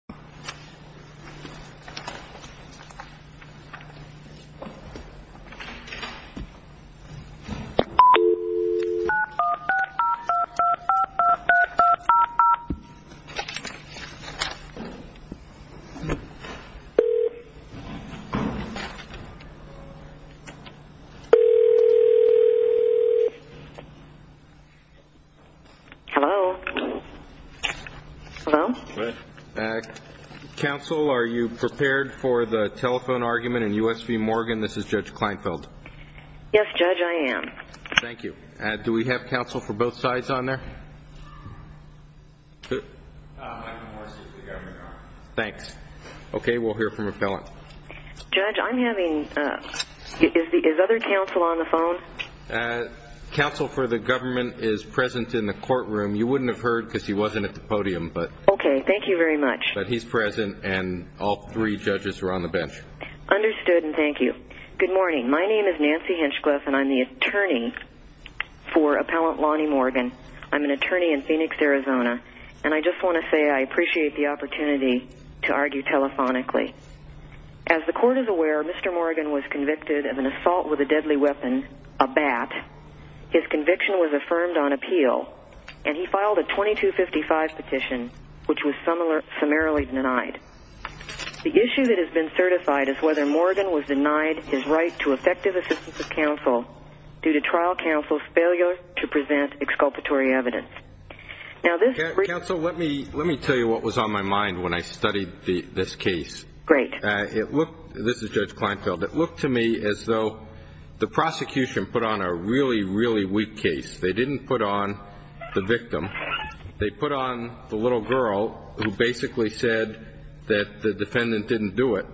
binocular valued population with spawned nicole nicole michael michael mike counsel are you prepared for the telephone argument in usv morgan this is judge klinefeld yes judge i am thank you and do we have counsel for both sides on their thanks okay we'll hear from a felon judge i'm having is the other council on the phone council for the government is present in the courtroom you wouldn't have heard because he wasn't at the podium but okay thank you very much but he's present and all three judges are on the bench understood and thank you good morning my name is nancy henchcliffe and i'm the attorney for appellant lani morgan i'm an attorney in phoenix arizona and i just want to say i appreciate the opportunity to argue telephonically as the court is aware mr morgan was convicted of an assault with a deadly weapon a bat his conviction was affirmed on appeal and he filed a twenty two fifty five petition which was similar summarily denied the issue that has been certified as whether morgan was denied his right to effective assistance of counsel due to trial counsel's failure to present exculpatory evidence now this council let me let me tell you what was on my mind when i studied the this case great it looked this is judge klinefeld it looked to me as though the prosecution put on a really really weak case they didn't put on the victim they put on the little girl who basically said that the defendant didn't do it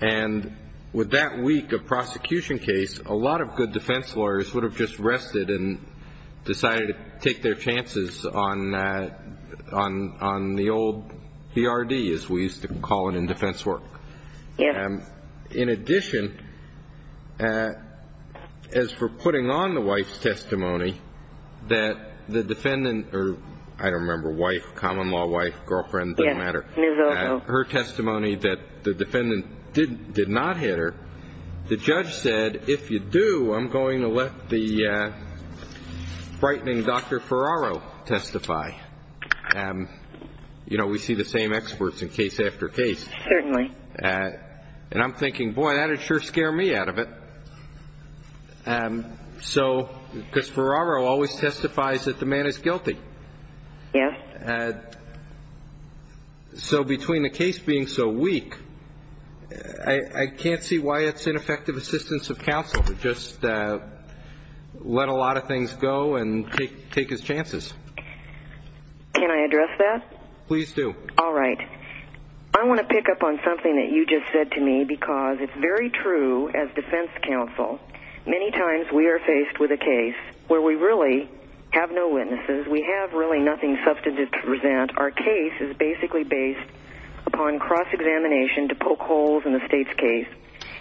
and with that week of prosecution case a lot of good defense lawyers would have just rested and decided to take their chances on on on the old brd as we used to call it in defense work and in addition as for putting on the wife's testimony that the defendant did did not hit her the judge said if you do i'm going to let the frightening dr ferraro testify and you know we see the same experts in case after case certainly and i'm thinking boy that'd sure scare me out of it and so because ferraro always testifies that the man is guilty yes and the judge so between the case being so weak I can't see why it's ineffective assistance of counsel just let a lot of things go and take take his chances can I address that please do all right I want to pick up on something that you just said to me because it's very true as defense counsel many times we are faced with a case where we really have no witnesses we have really nothing substantive to present our case is basically based upon cross-examination to poke holes in the state's case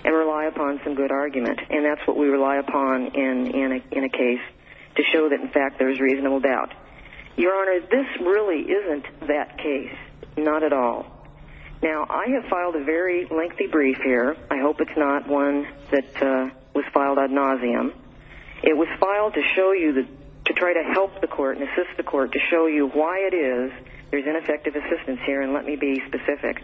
and rely upon some good argument and that's what we rely upon in in a case to show that in fact there's reasonable doubt your honor this really isn't that case not at all now I have filed a very lengthy brief here I hope it's not one that was filed ad nauseum it was filed to show you that to try to help the court and assist the court to show you why it is there's ineffective assistance here and let me be specific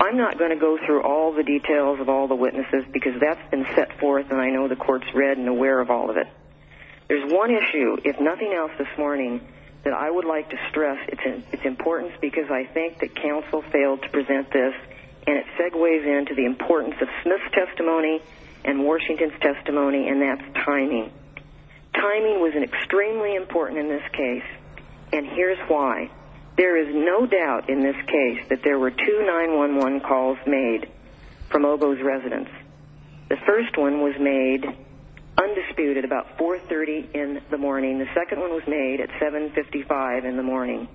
I'm not going to go through all the details of all the witnesses because that's been set forth and I know the courts read and aware of all of it there's one issue if nothing else this morning that I would like to stress it's an it's importance because I think that counsel failed to present this and it segues into the importance of Smith's testimony and Washington's testimony and that's timing timing was an extremely important in this case and here's why there is no doubt in this case that there were two 9-1-1 calls made from Oboe's residents the first one was made undisputed about 430 in the morning the second one was made at 755 in the morning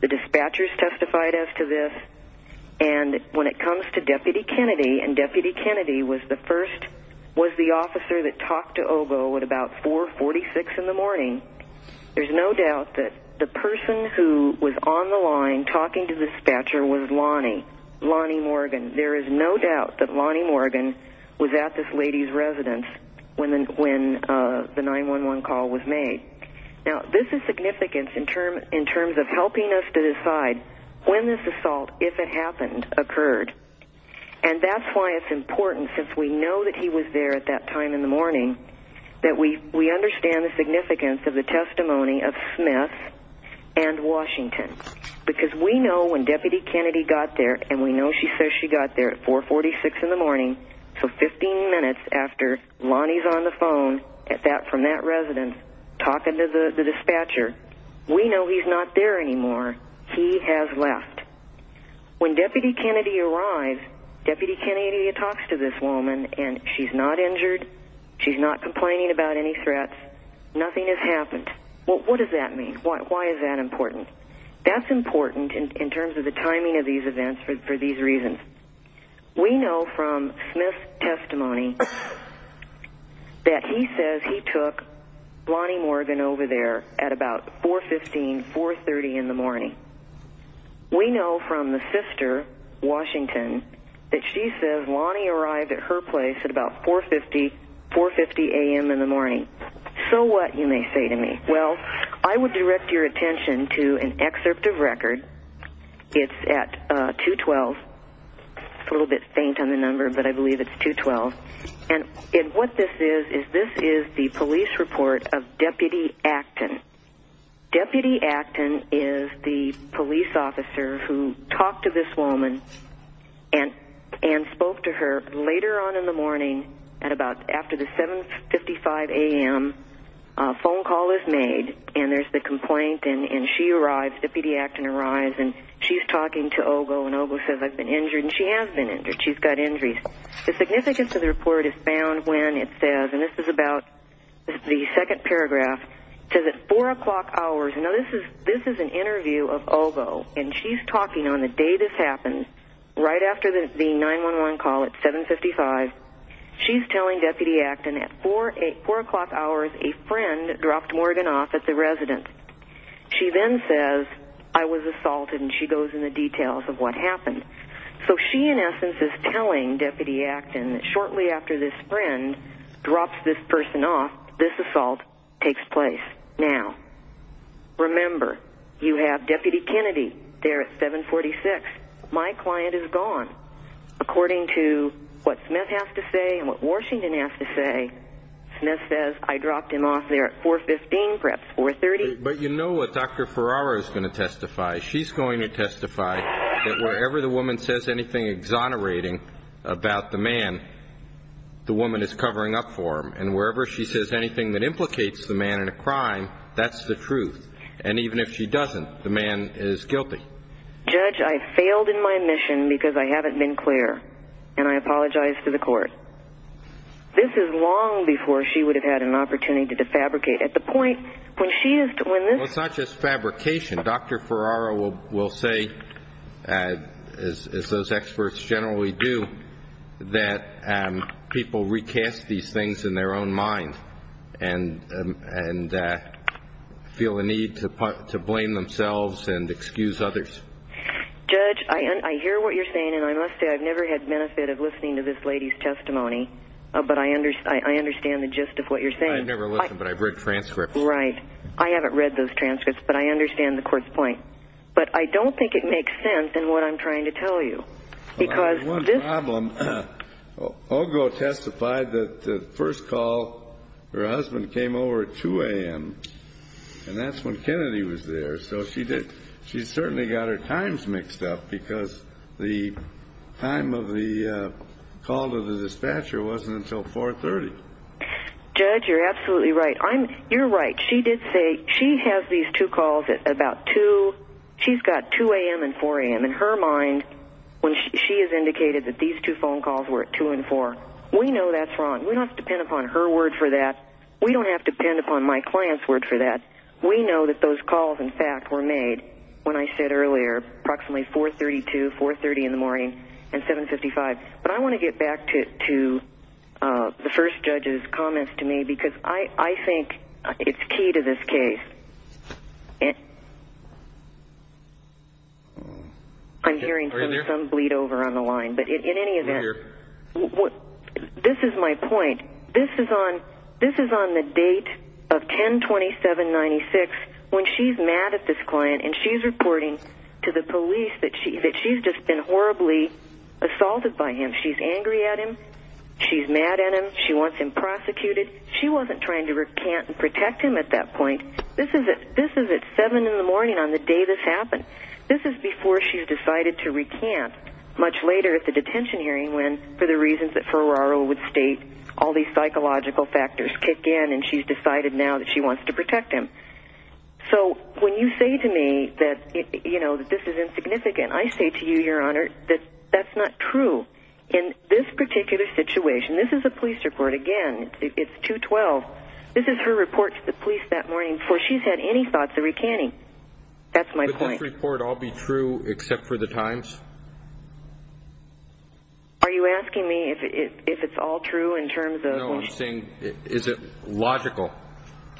the dispatchers testified as to this and when it comes to deputy Kennedy and deputy Kennedy was the first was the about 446 in the morning there's no doubt that the person who was on the line talking to the dispatcher was Lonnie Lonnie Morgan there is no doubt that Lonnie Morgan was at this lady's residence when when the 9-1-1 call was made now this is significance in term in terms of helping us to decide when this assault if it happened occurred and that's why it's important since we know that he was there at that time in the morning that we we understand the significance of the testimony of Smith and Washington because we know when deputy Kennedy got there and we know she says she got there at 446 in the morning so 15 minutes after Lonnie's on the phone at that from that resident talking to the dispatcher we know he's not there anymore he has left when talks to this woman and she's not injured she's not complaining about any threats nothing has happened well what does that mean why is that important that's important in terms of the timing of these events for these reasons we know from Smith testimony that he says he took Lonnie Morgan over there at about 415 430 in the morning we know from the sister Washington that she says Lonnie arrived at her place at about 450 450 a.m. in the morning so what you may say to me well I would direct your attention to an excerpt of record it's at 212 it's a little bit faint on the number but I believe it's 212 and in what this is is this is the police report of deputy Acton deputy Acton is the police officer who talked to this woman and and spoke to her later on in the morning at about after the 755 a.m. phone call is made and there's the complaint and and she arrives deputy Acton arrives and she's talking to Ogo and Ogo says I've been injured and she has been injured she's got injuries the significance of the report is found when it says and this is about the second paragraph says at four o'clock hours you know this is this is an interview of Ogo and she's talking on the day this happened right after the 9-1-1 call at 755 she's telling deputy Acton at four eight four o'clock hours a friend dropped Morgan off at the residence she then says I was assaulted and she goes in the details of what happened so she in essence is telling deputy Acton shortly after this friend drops this person off this assault takes place now remember you have deputy Kennedy there at 746 my client is gone according to what Smith has to say and what Washington has to say Smith says I dropped him off there at 415 perhaps 430 but you know what dr. Ferraro is going to testify she's going to testify that wherever the woman says anything exonerating about the man the woman is covering up for him and wherever she says anything that implicates the man in a crime that's the truth and even if she doesn't the man is guilty judge I failed in my mission because I haven't been clear and I apologize to the court this is long before she would have had an opportunity to defabricate at the point when she is doing this it's not just fabrication dr. Ferraro will say as those experts generally do that people recast these things in their own mind and and feel the need to put to blame themselves and excuse others judge I hear what you're saying and I must say I've never had benefit of listening to this lady's testimony but I understand I understand the gist of what you're saying I've read transcripts right I understand the court's point but I don't think it makes sense and what I'm trying to tell you because one problem Ogo testified that the first call her husband came over at 2 a.m. and that's when Kennedy was there so she did she's certainly got her times mixed up because the time of the call to the dispatcher wasn't until 430 judge you're absolutely right I'm you're right she did say she has these two calls at about 2 she's got 2 a.m. and 4 a.m. in her mind when she has indicated that these two phone calls were at 2 and 4 we know that's wrong we don't depend upon her word for that we don't have to depend upon my clients word for that we know that those calls in fact were made when I said earlier approximately 432 430 in the morning and 755 but I want to get back to the first judge's comments to me because I I think it's key to this case it I'm hearing some bleed over on the line but in any event what this is my point this is on this is on the date of 1027 96 when she's mad at this client and she's reporting to the police that she that she's just been horribly assaulted by him she's angry at him she's mad at him she wants him prosecuted she wasn't trying to recant and protect him at that point this is it this is at 7 in the morning on the day this happened this is before she's decided to recant much later at the detention hearing when for the reasons that Ferraro would state all these psychological factors kick in and she's decided now that she wants to protect him so when you say to me that you know this is insignificant I say to you your honor that that's not true in this particular situation this is a police report again it's 212 this is her report to the police that morning before she's had any thoughts of recanting that's my point report all be true except for the times are you asking me if it's all true in terms of thing is it logical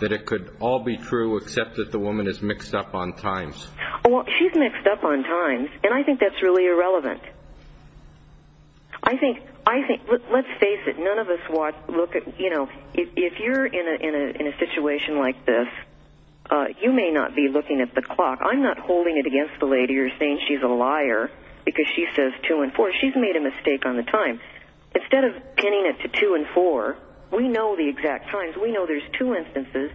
that it could all be true except that the woman is mixed up on times well she's mixed up on times and I think that's really irrelevant I think I think let's face it none of us watch look at you know if you're in a situation like this you may not be looking at the clock I'm not holding it against the lady you're saying she's a liar because she says two and four she's made a mistake on the time instead of pinning it to two and four we know the exact times we know there's two instances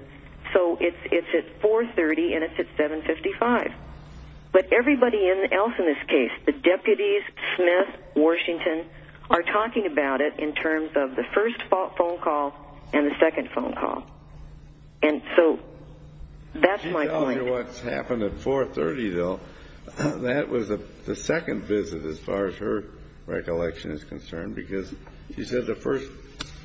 so it's it's at 430 and it's at 755 but everybody else in this case the deputies Smith Washington are talking about it in terms of the first phone call and the second phone call and so that's my point what's happened at 430 though that was a the second visit as far as her recollection is concerned because you said the first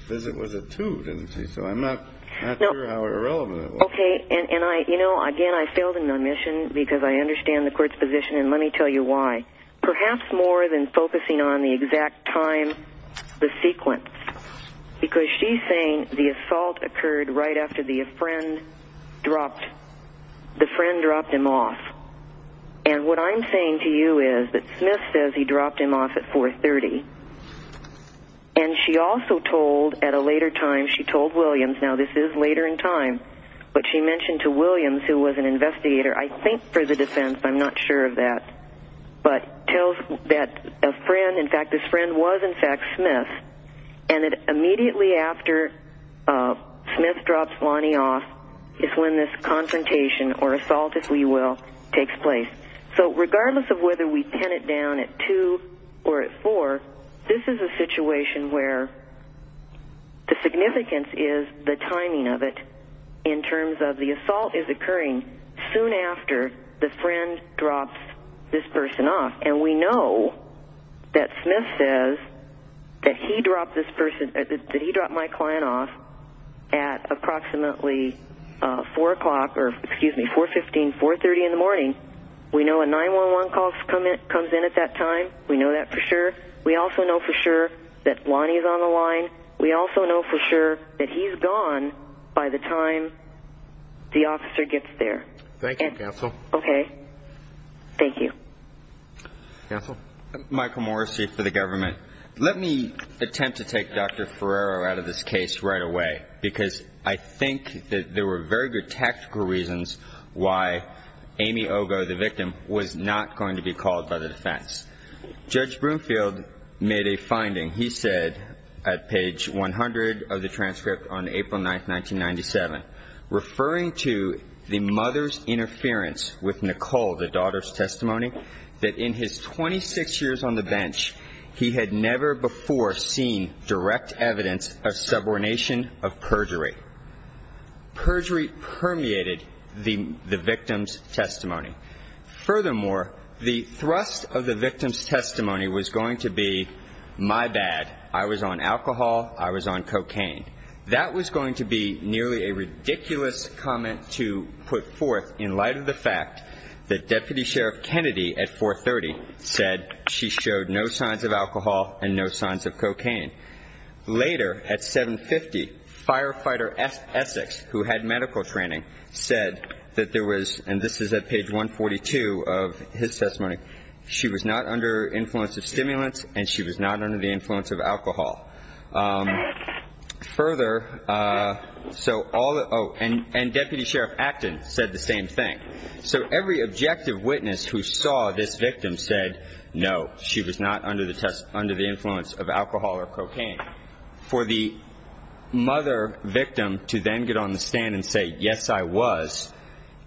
visit was a two didn't see so I'm not okay and and I you know again I failed in my mission because I understand the court's position and let me tell you why perhaps more than focusing on the exact time the sequence because she's saying the assault occurred right after the a friend dropped the friend dropped him off and what I'm saying to you is that Smith says he dropped him off at 430 and she also told at a later time she told Williams now this is later in time but she mentioned to Williams who was an investigator I think for the defense I'm not sure of that but tells that a friend in fact this friend was in fact Smith and it immediately after Smith drops Lonnie off is when this confrontation or assault if we will takes place so regardless of whether we pin it down at two or four this is a situation where the significance is the timing of it in terms of the assault is occurring soon after the friend dropped this person off and we know that Smith says that he dropped this person that he dropped my client off at approximately four o'clock or excuse me 415 430 in the morning we know a 911 call comes in at that time we know that for sure we also know for sure that Lonnie is on the line we also know for sure that he's gone by the time the officer gets there. Thank you counsel. Okay thank you. Michael Morrissey for the government let me attempt to take Dr. Ferraro out of this case right away because I think that there were very good tactical reasons why Amy Ogo the victim was not going to be called by the defense. Judge Broomfield made a finding he said at page 100 of the transcript on April 9th 1997 referring to the mother's interference with Nicole the daughter's testimony that in his 26 years on the bench he had never before seen direct evidence of subordination of thrust of the victim's testimony was going to be my bad I was on alcohol I was on cocaine that was going to be nearly a ridiculous comment to put forth in light of the fact that Deputy Sheriff Kennedy at 430 said she showed no signs of alcohol and no signs of cocaine. Later at 750 firefighter Essex who had his testimony she was not under influence of stimulants and she was not under the influence of alcohol. Further so all and Deputy Sheriff Acton said the same thing so every objective witness who saw this victim said no she was not under the test under the influence of alcohol or cocaine. For the mother victim to then get on the stand and say yes I was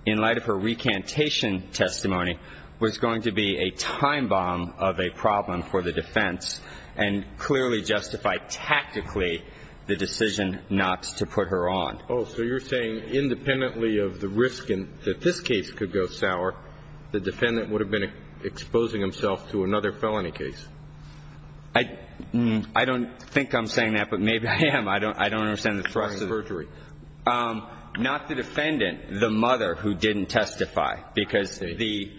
in light of her recantation testimony was going to be a time bomb of a problem for the defense and clearly justified tactically the decision not to put her on. Oh so you're saying independently of the risk in that this case could go sour the defendant would have been exposing himself to another felony case. I don't think I'm saying that but maybe I am I don't understand the thrust of perjury. Not the defendant the mother who didn't testify because the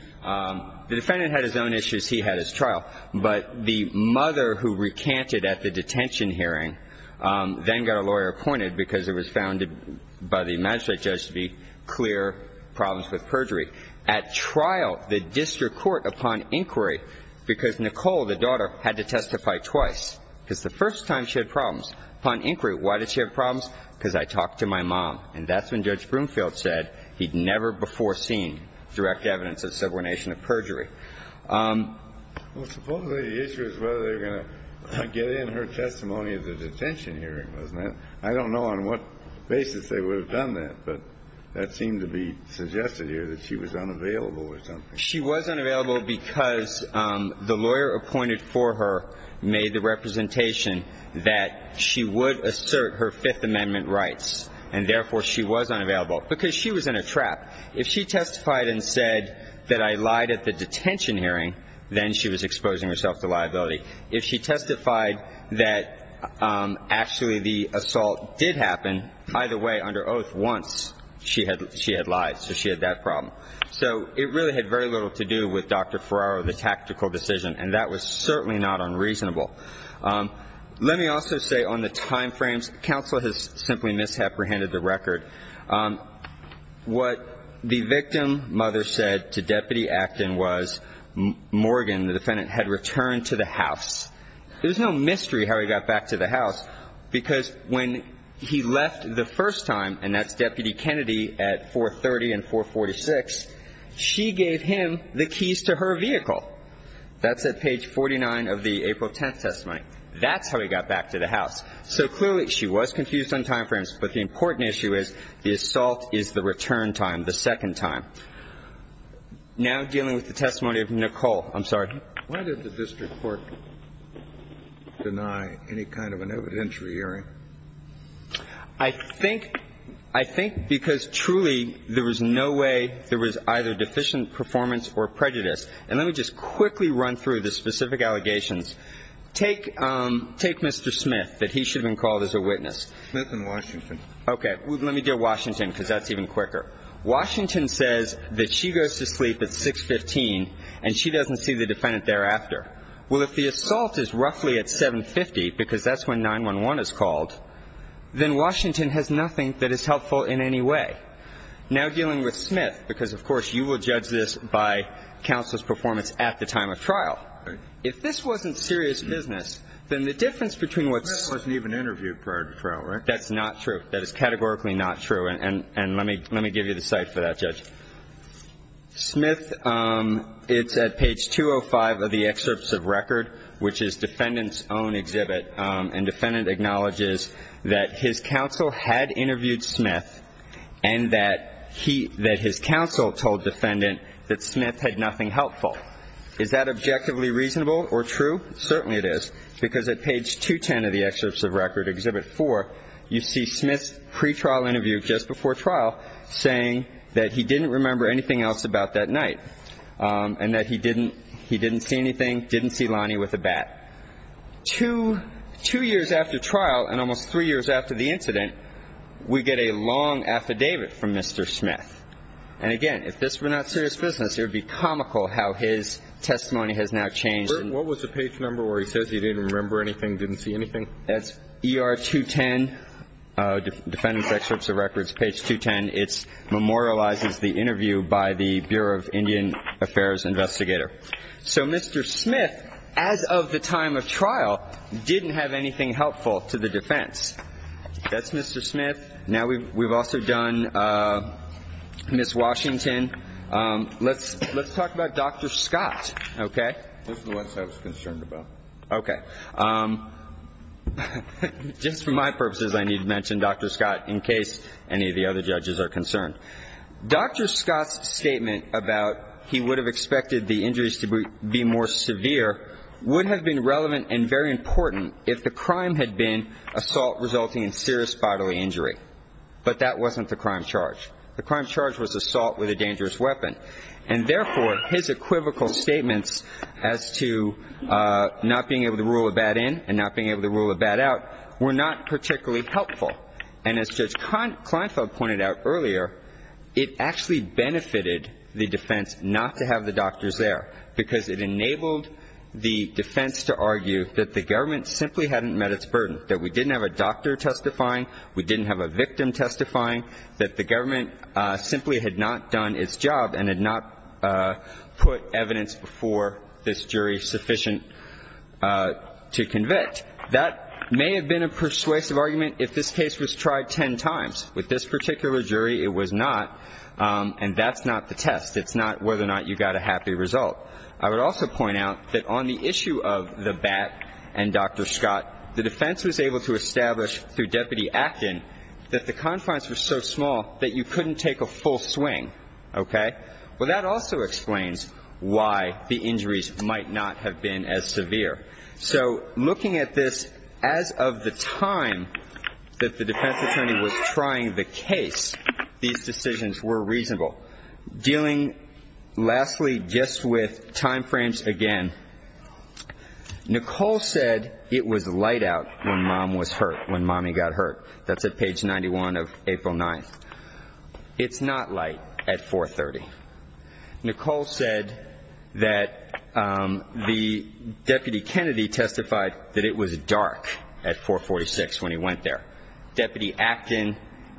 defendant had his own issues he had his trial but the mother who recanted at the detention hearing then got a lawyer appointed because it was found by the magistrate judge to be clear problems with perjury. At trial the district court upon inquiry because Nicole the daughter had to testify twice because the first time she had problems upon inquiry why did she have problems because I talked to my mom and that's when judge Broomfield said he'd never before seen direct evidence of subordination of perjury. Well supposedly the issue is whether they're going to get in her testimony at the detention hearing wasn't it? I don't know on what basis they would have done that but that seemed to be suggested here that she was unavailable or something. She was unavailable because the lawyer appointed for her made the representation that she would assert her fifth amendment rights and therefore she was unavailable because she was in a trap. If she testified and said that I lied at the detention hearing then she was exposing herself to liability. If she testified that actually the assault did happen either way under oath once she had lied so she had that problem. So it really had very little to do with Dr. Ferraro the tactical decision and that was certainly not unreasonable. Let me also say on the time frames counsel has simply misapprehended the record. What the victim mother said to deputy Acton was Morgan the defendant had returned to the house. There's no mystery how he got back to the house because when he left the first time and that's deputy Kennedy at 430 and 446 she gave him the keys to her vehicle. That's at page 49 of the April 10th testimony. That's how he got back to the house. So clearly she was confused on time frames but the important issue is the assault is the return time, the second time. Now dealing with the testimony of Nicole. I'm sorry. Why did the district court deny any kind of an entry hearing? I think because truly there was no way there was either deficient performance or prejudice. And let me just quickly run through the specific allegations. Take Mr. Smith that he should have been called as a witness. Smith and Washington. Okay. Let me do Washington because that's even quicker. Washington says that she goes to sleep at 615 and she doesn't see the defendant thereafter. Well if the assault is roughly at 750 because that's when 911 is called, then Washington has nothing that is helpful in any way. Now dealing with Smith because of course you will judge this by counsel's performance at the time of trial. If this wasn't serious business then the difference between what's. Smith wasn't even interviewed prior to trial right? That's not true. That is categorically not true and let me give you the site for that judge. Smith, it's at page 205 of the excerpts of record which is defendant's own exhibit and defendant acknowledges that his counsel had interviewed Smith and that he, that his counsel told defendant that Smith had nothing helpful. Is that objectively reasonable or true? Certainly it is because at page 210 of the excerpts of record, exhibit four, you see Smith's pretrial interview just before trial saying that he didn't remember anything else about that night and that he didn't, he didn't see anything, didn't see Lonnie with a bat. Two, two years after trial and almost three years after the incident, we get a long affidavit from Mr. Smith. And again, if this were not serious business, it would be comical how his testimony has now changed. What was the page number where he says he didn't remember anything, didn't see anything? That's ER 210, defendant's excerpts of records, page 210. It's memorializes the interview by the Bureau of Indian Affairs investigator. So Mr. Smith, as of the time of trial, didn't have anything helpful to the defense. That's Mr. Smith. Now we've also done Ms. Washington. Let's talk about Dr. Scott, okay? This is what I was concerned about. Okay. Just for my purposes, I need to mention Dr. Scott in case any of the other judges are concerned. Dr. Scott's statement about he would have expected the injuries to be more severe would have been relevant and very important if the crime had been assault resulting in serious bodily injury. But that wasn't the crime charge. The crime charge was assault with a dangerous weapon. And therefore, his equivocal statements as to not being able to rule a bat in and not being able to rule a bat out were not particularly helpful. And as Judge Kleinfeld pointed out earlier, it actually benefited the defense not to have the doctors there, because it enabled the defense to argue that the government simply hadn't met its burden, that we didn't have a doctor testifying, we didn't have a victim testifying, that the government simply had not done its job and had not put evidence before this jury sufficient to convict. That may have been a persuasive argument if this case was tried ten times. With this particular jury, it was not. And that's not the test. It's not whether or not you got a happy result. I would also point out that on the issue of the bat and Dr. Scott, the defense was able to establish through Deputy Acton that the injuries might not have been as severe. So looking at this as of the time that the defense attorney was trying the case, these decisions were reasonable. Dealing, lastly, just with time frames again, Nicole said it was light out when mom was hurt, when mommy got hurt. That's at page 91 of April 9th. It's not light at 430. Nicole said that the Deputy Kennedy testified that it was dark at 446 when he went there. Deputy Acton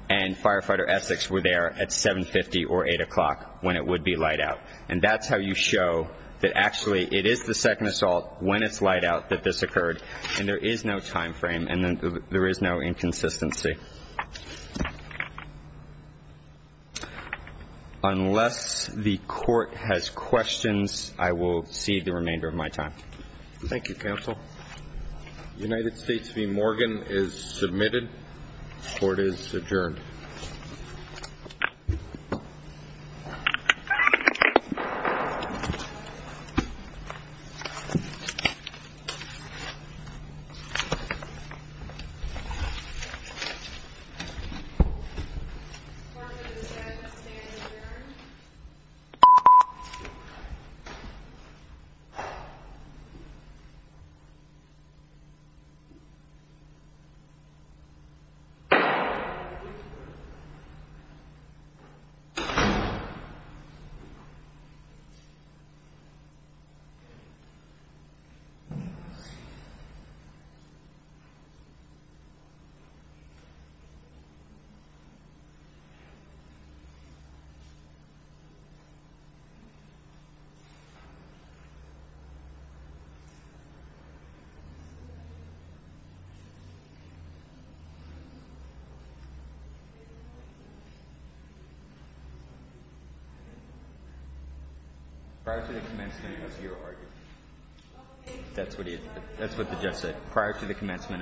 and Firefighter Essex were there at 750 or 8 o'clock when it would be light out. And that's how you show that actually it is the second assault, when it's light out, that this occurred. And there is no time frame and there is no inconsistency. Unless the court has questions, I will cede the remainder of my time. Thank you, counsel. United States v. Morgan is submitted. Court is adjourned. Thank you, counsel. Prior to the commencement of your argument. That's what he said. Prior to the commencement of.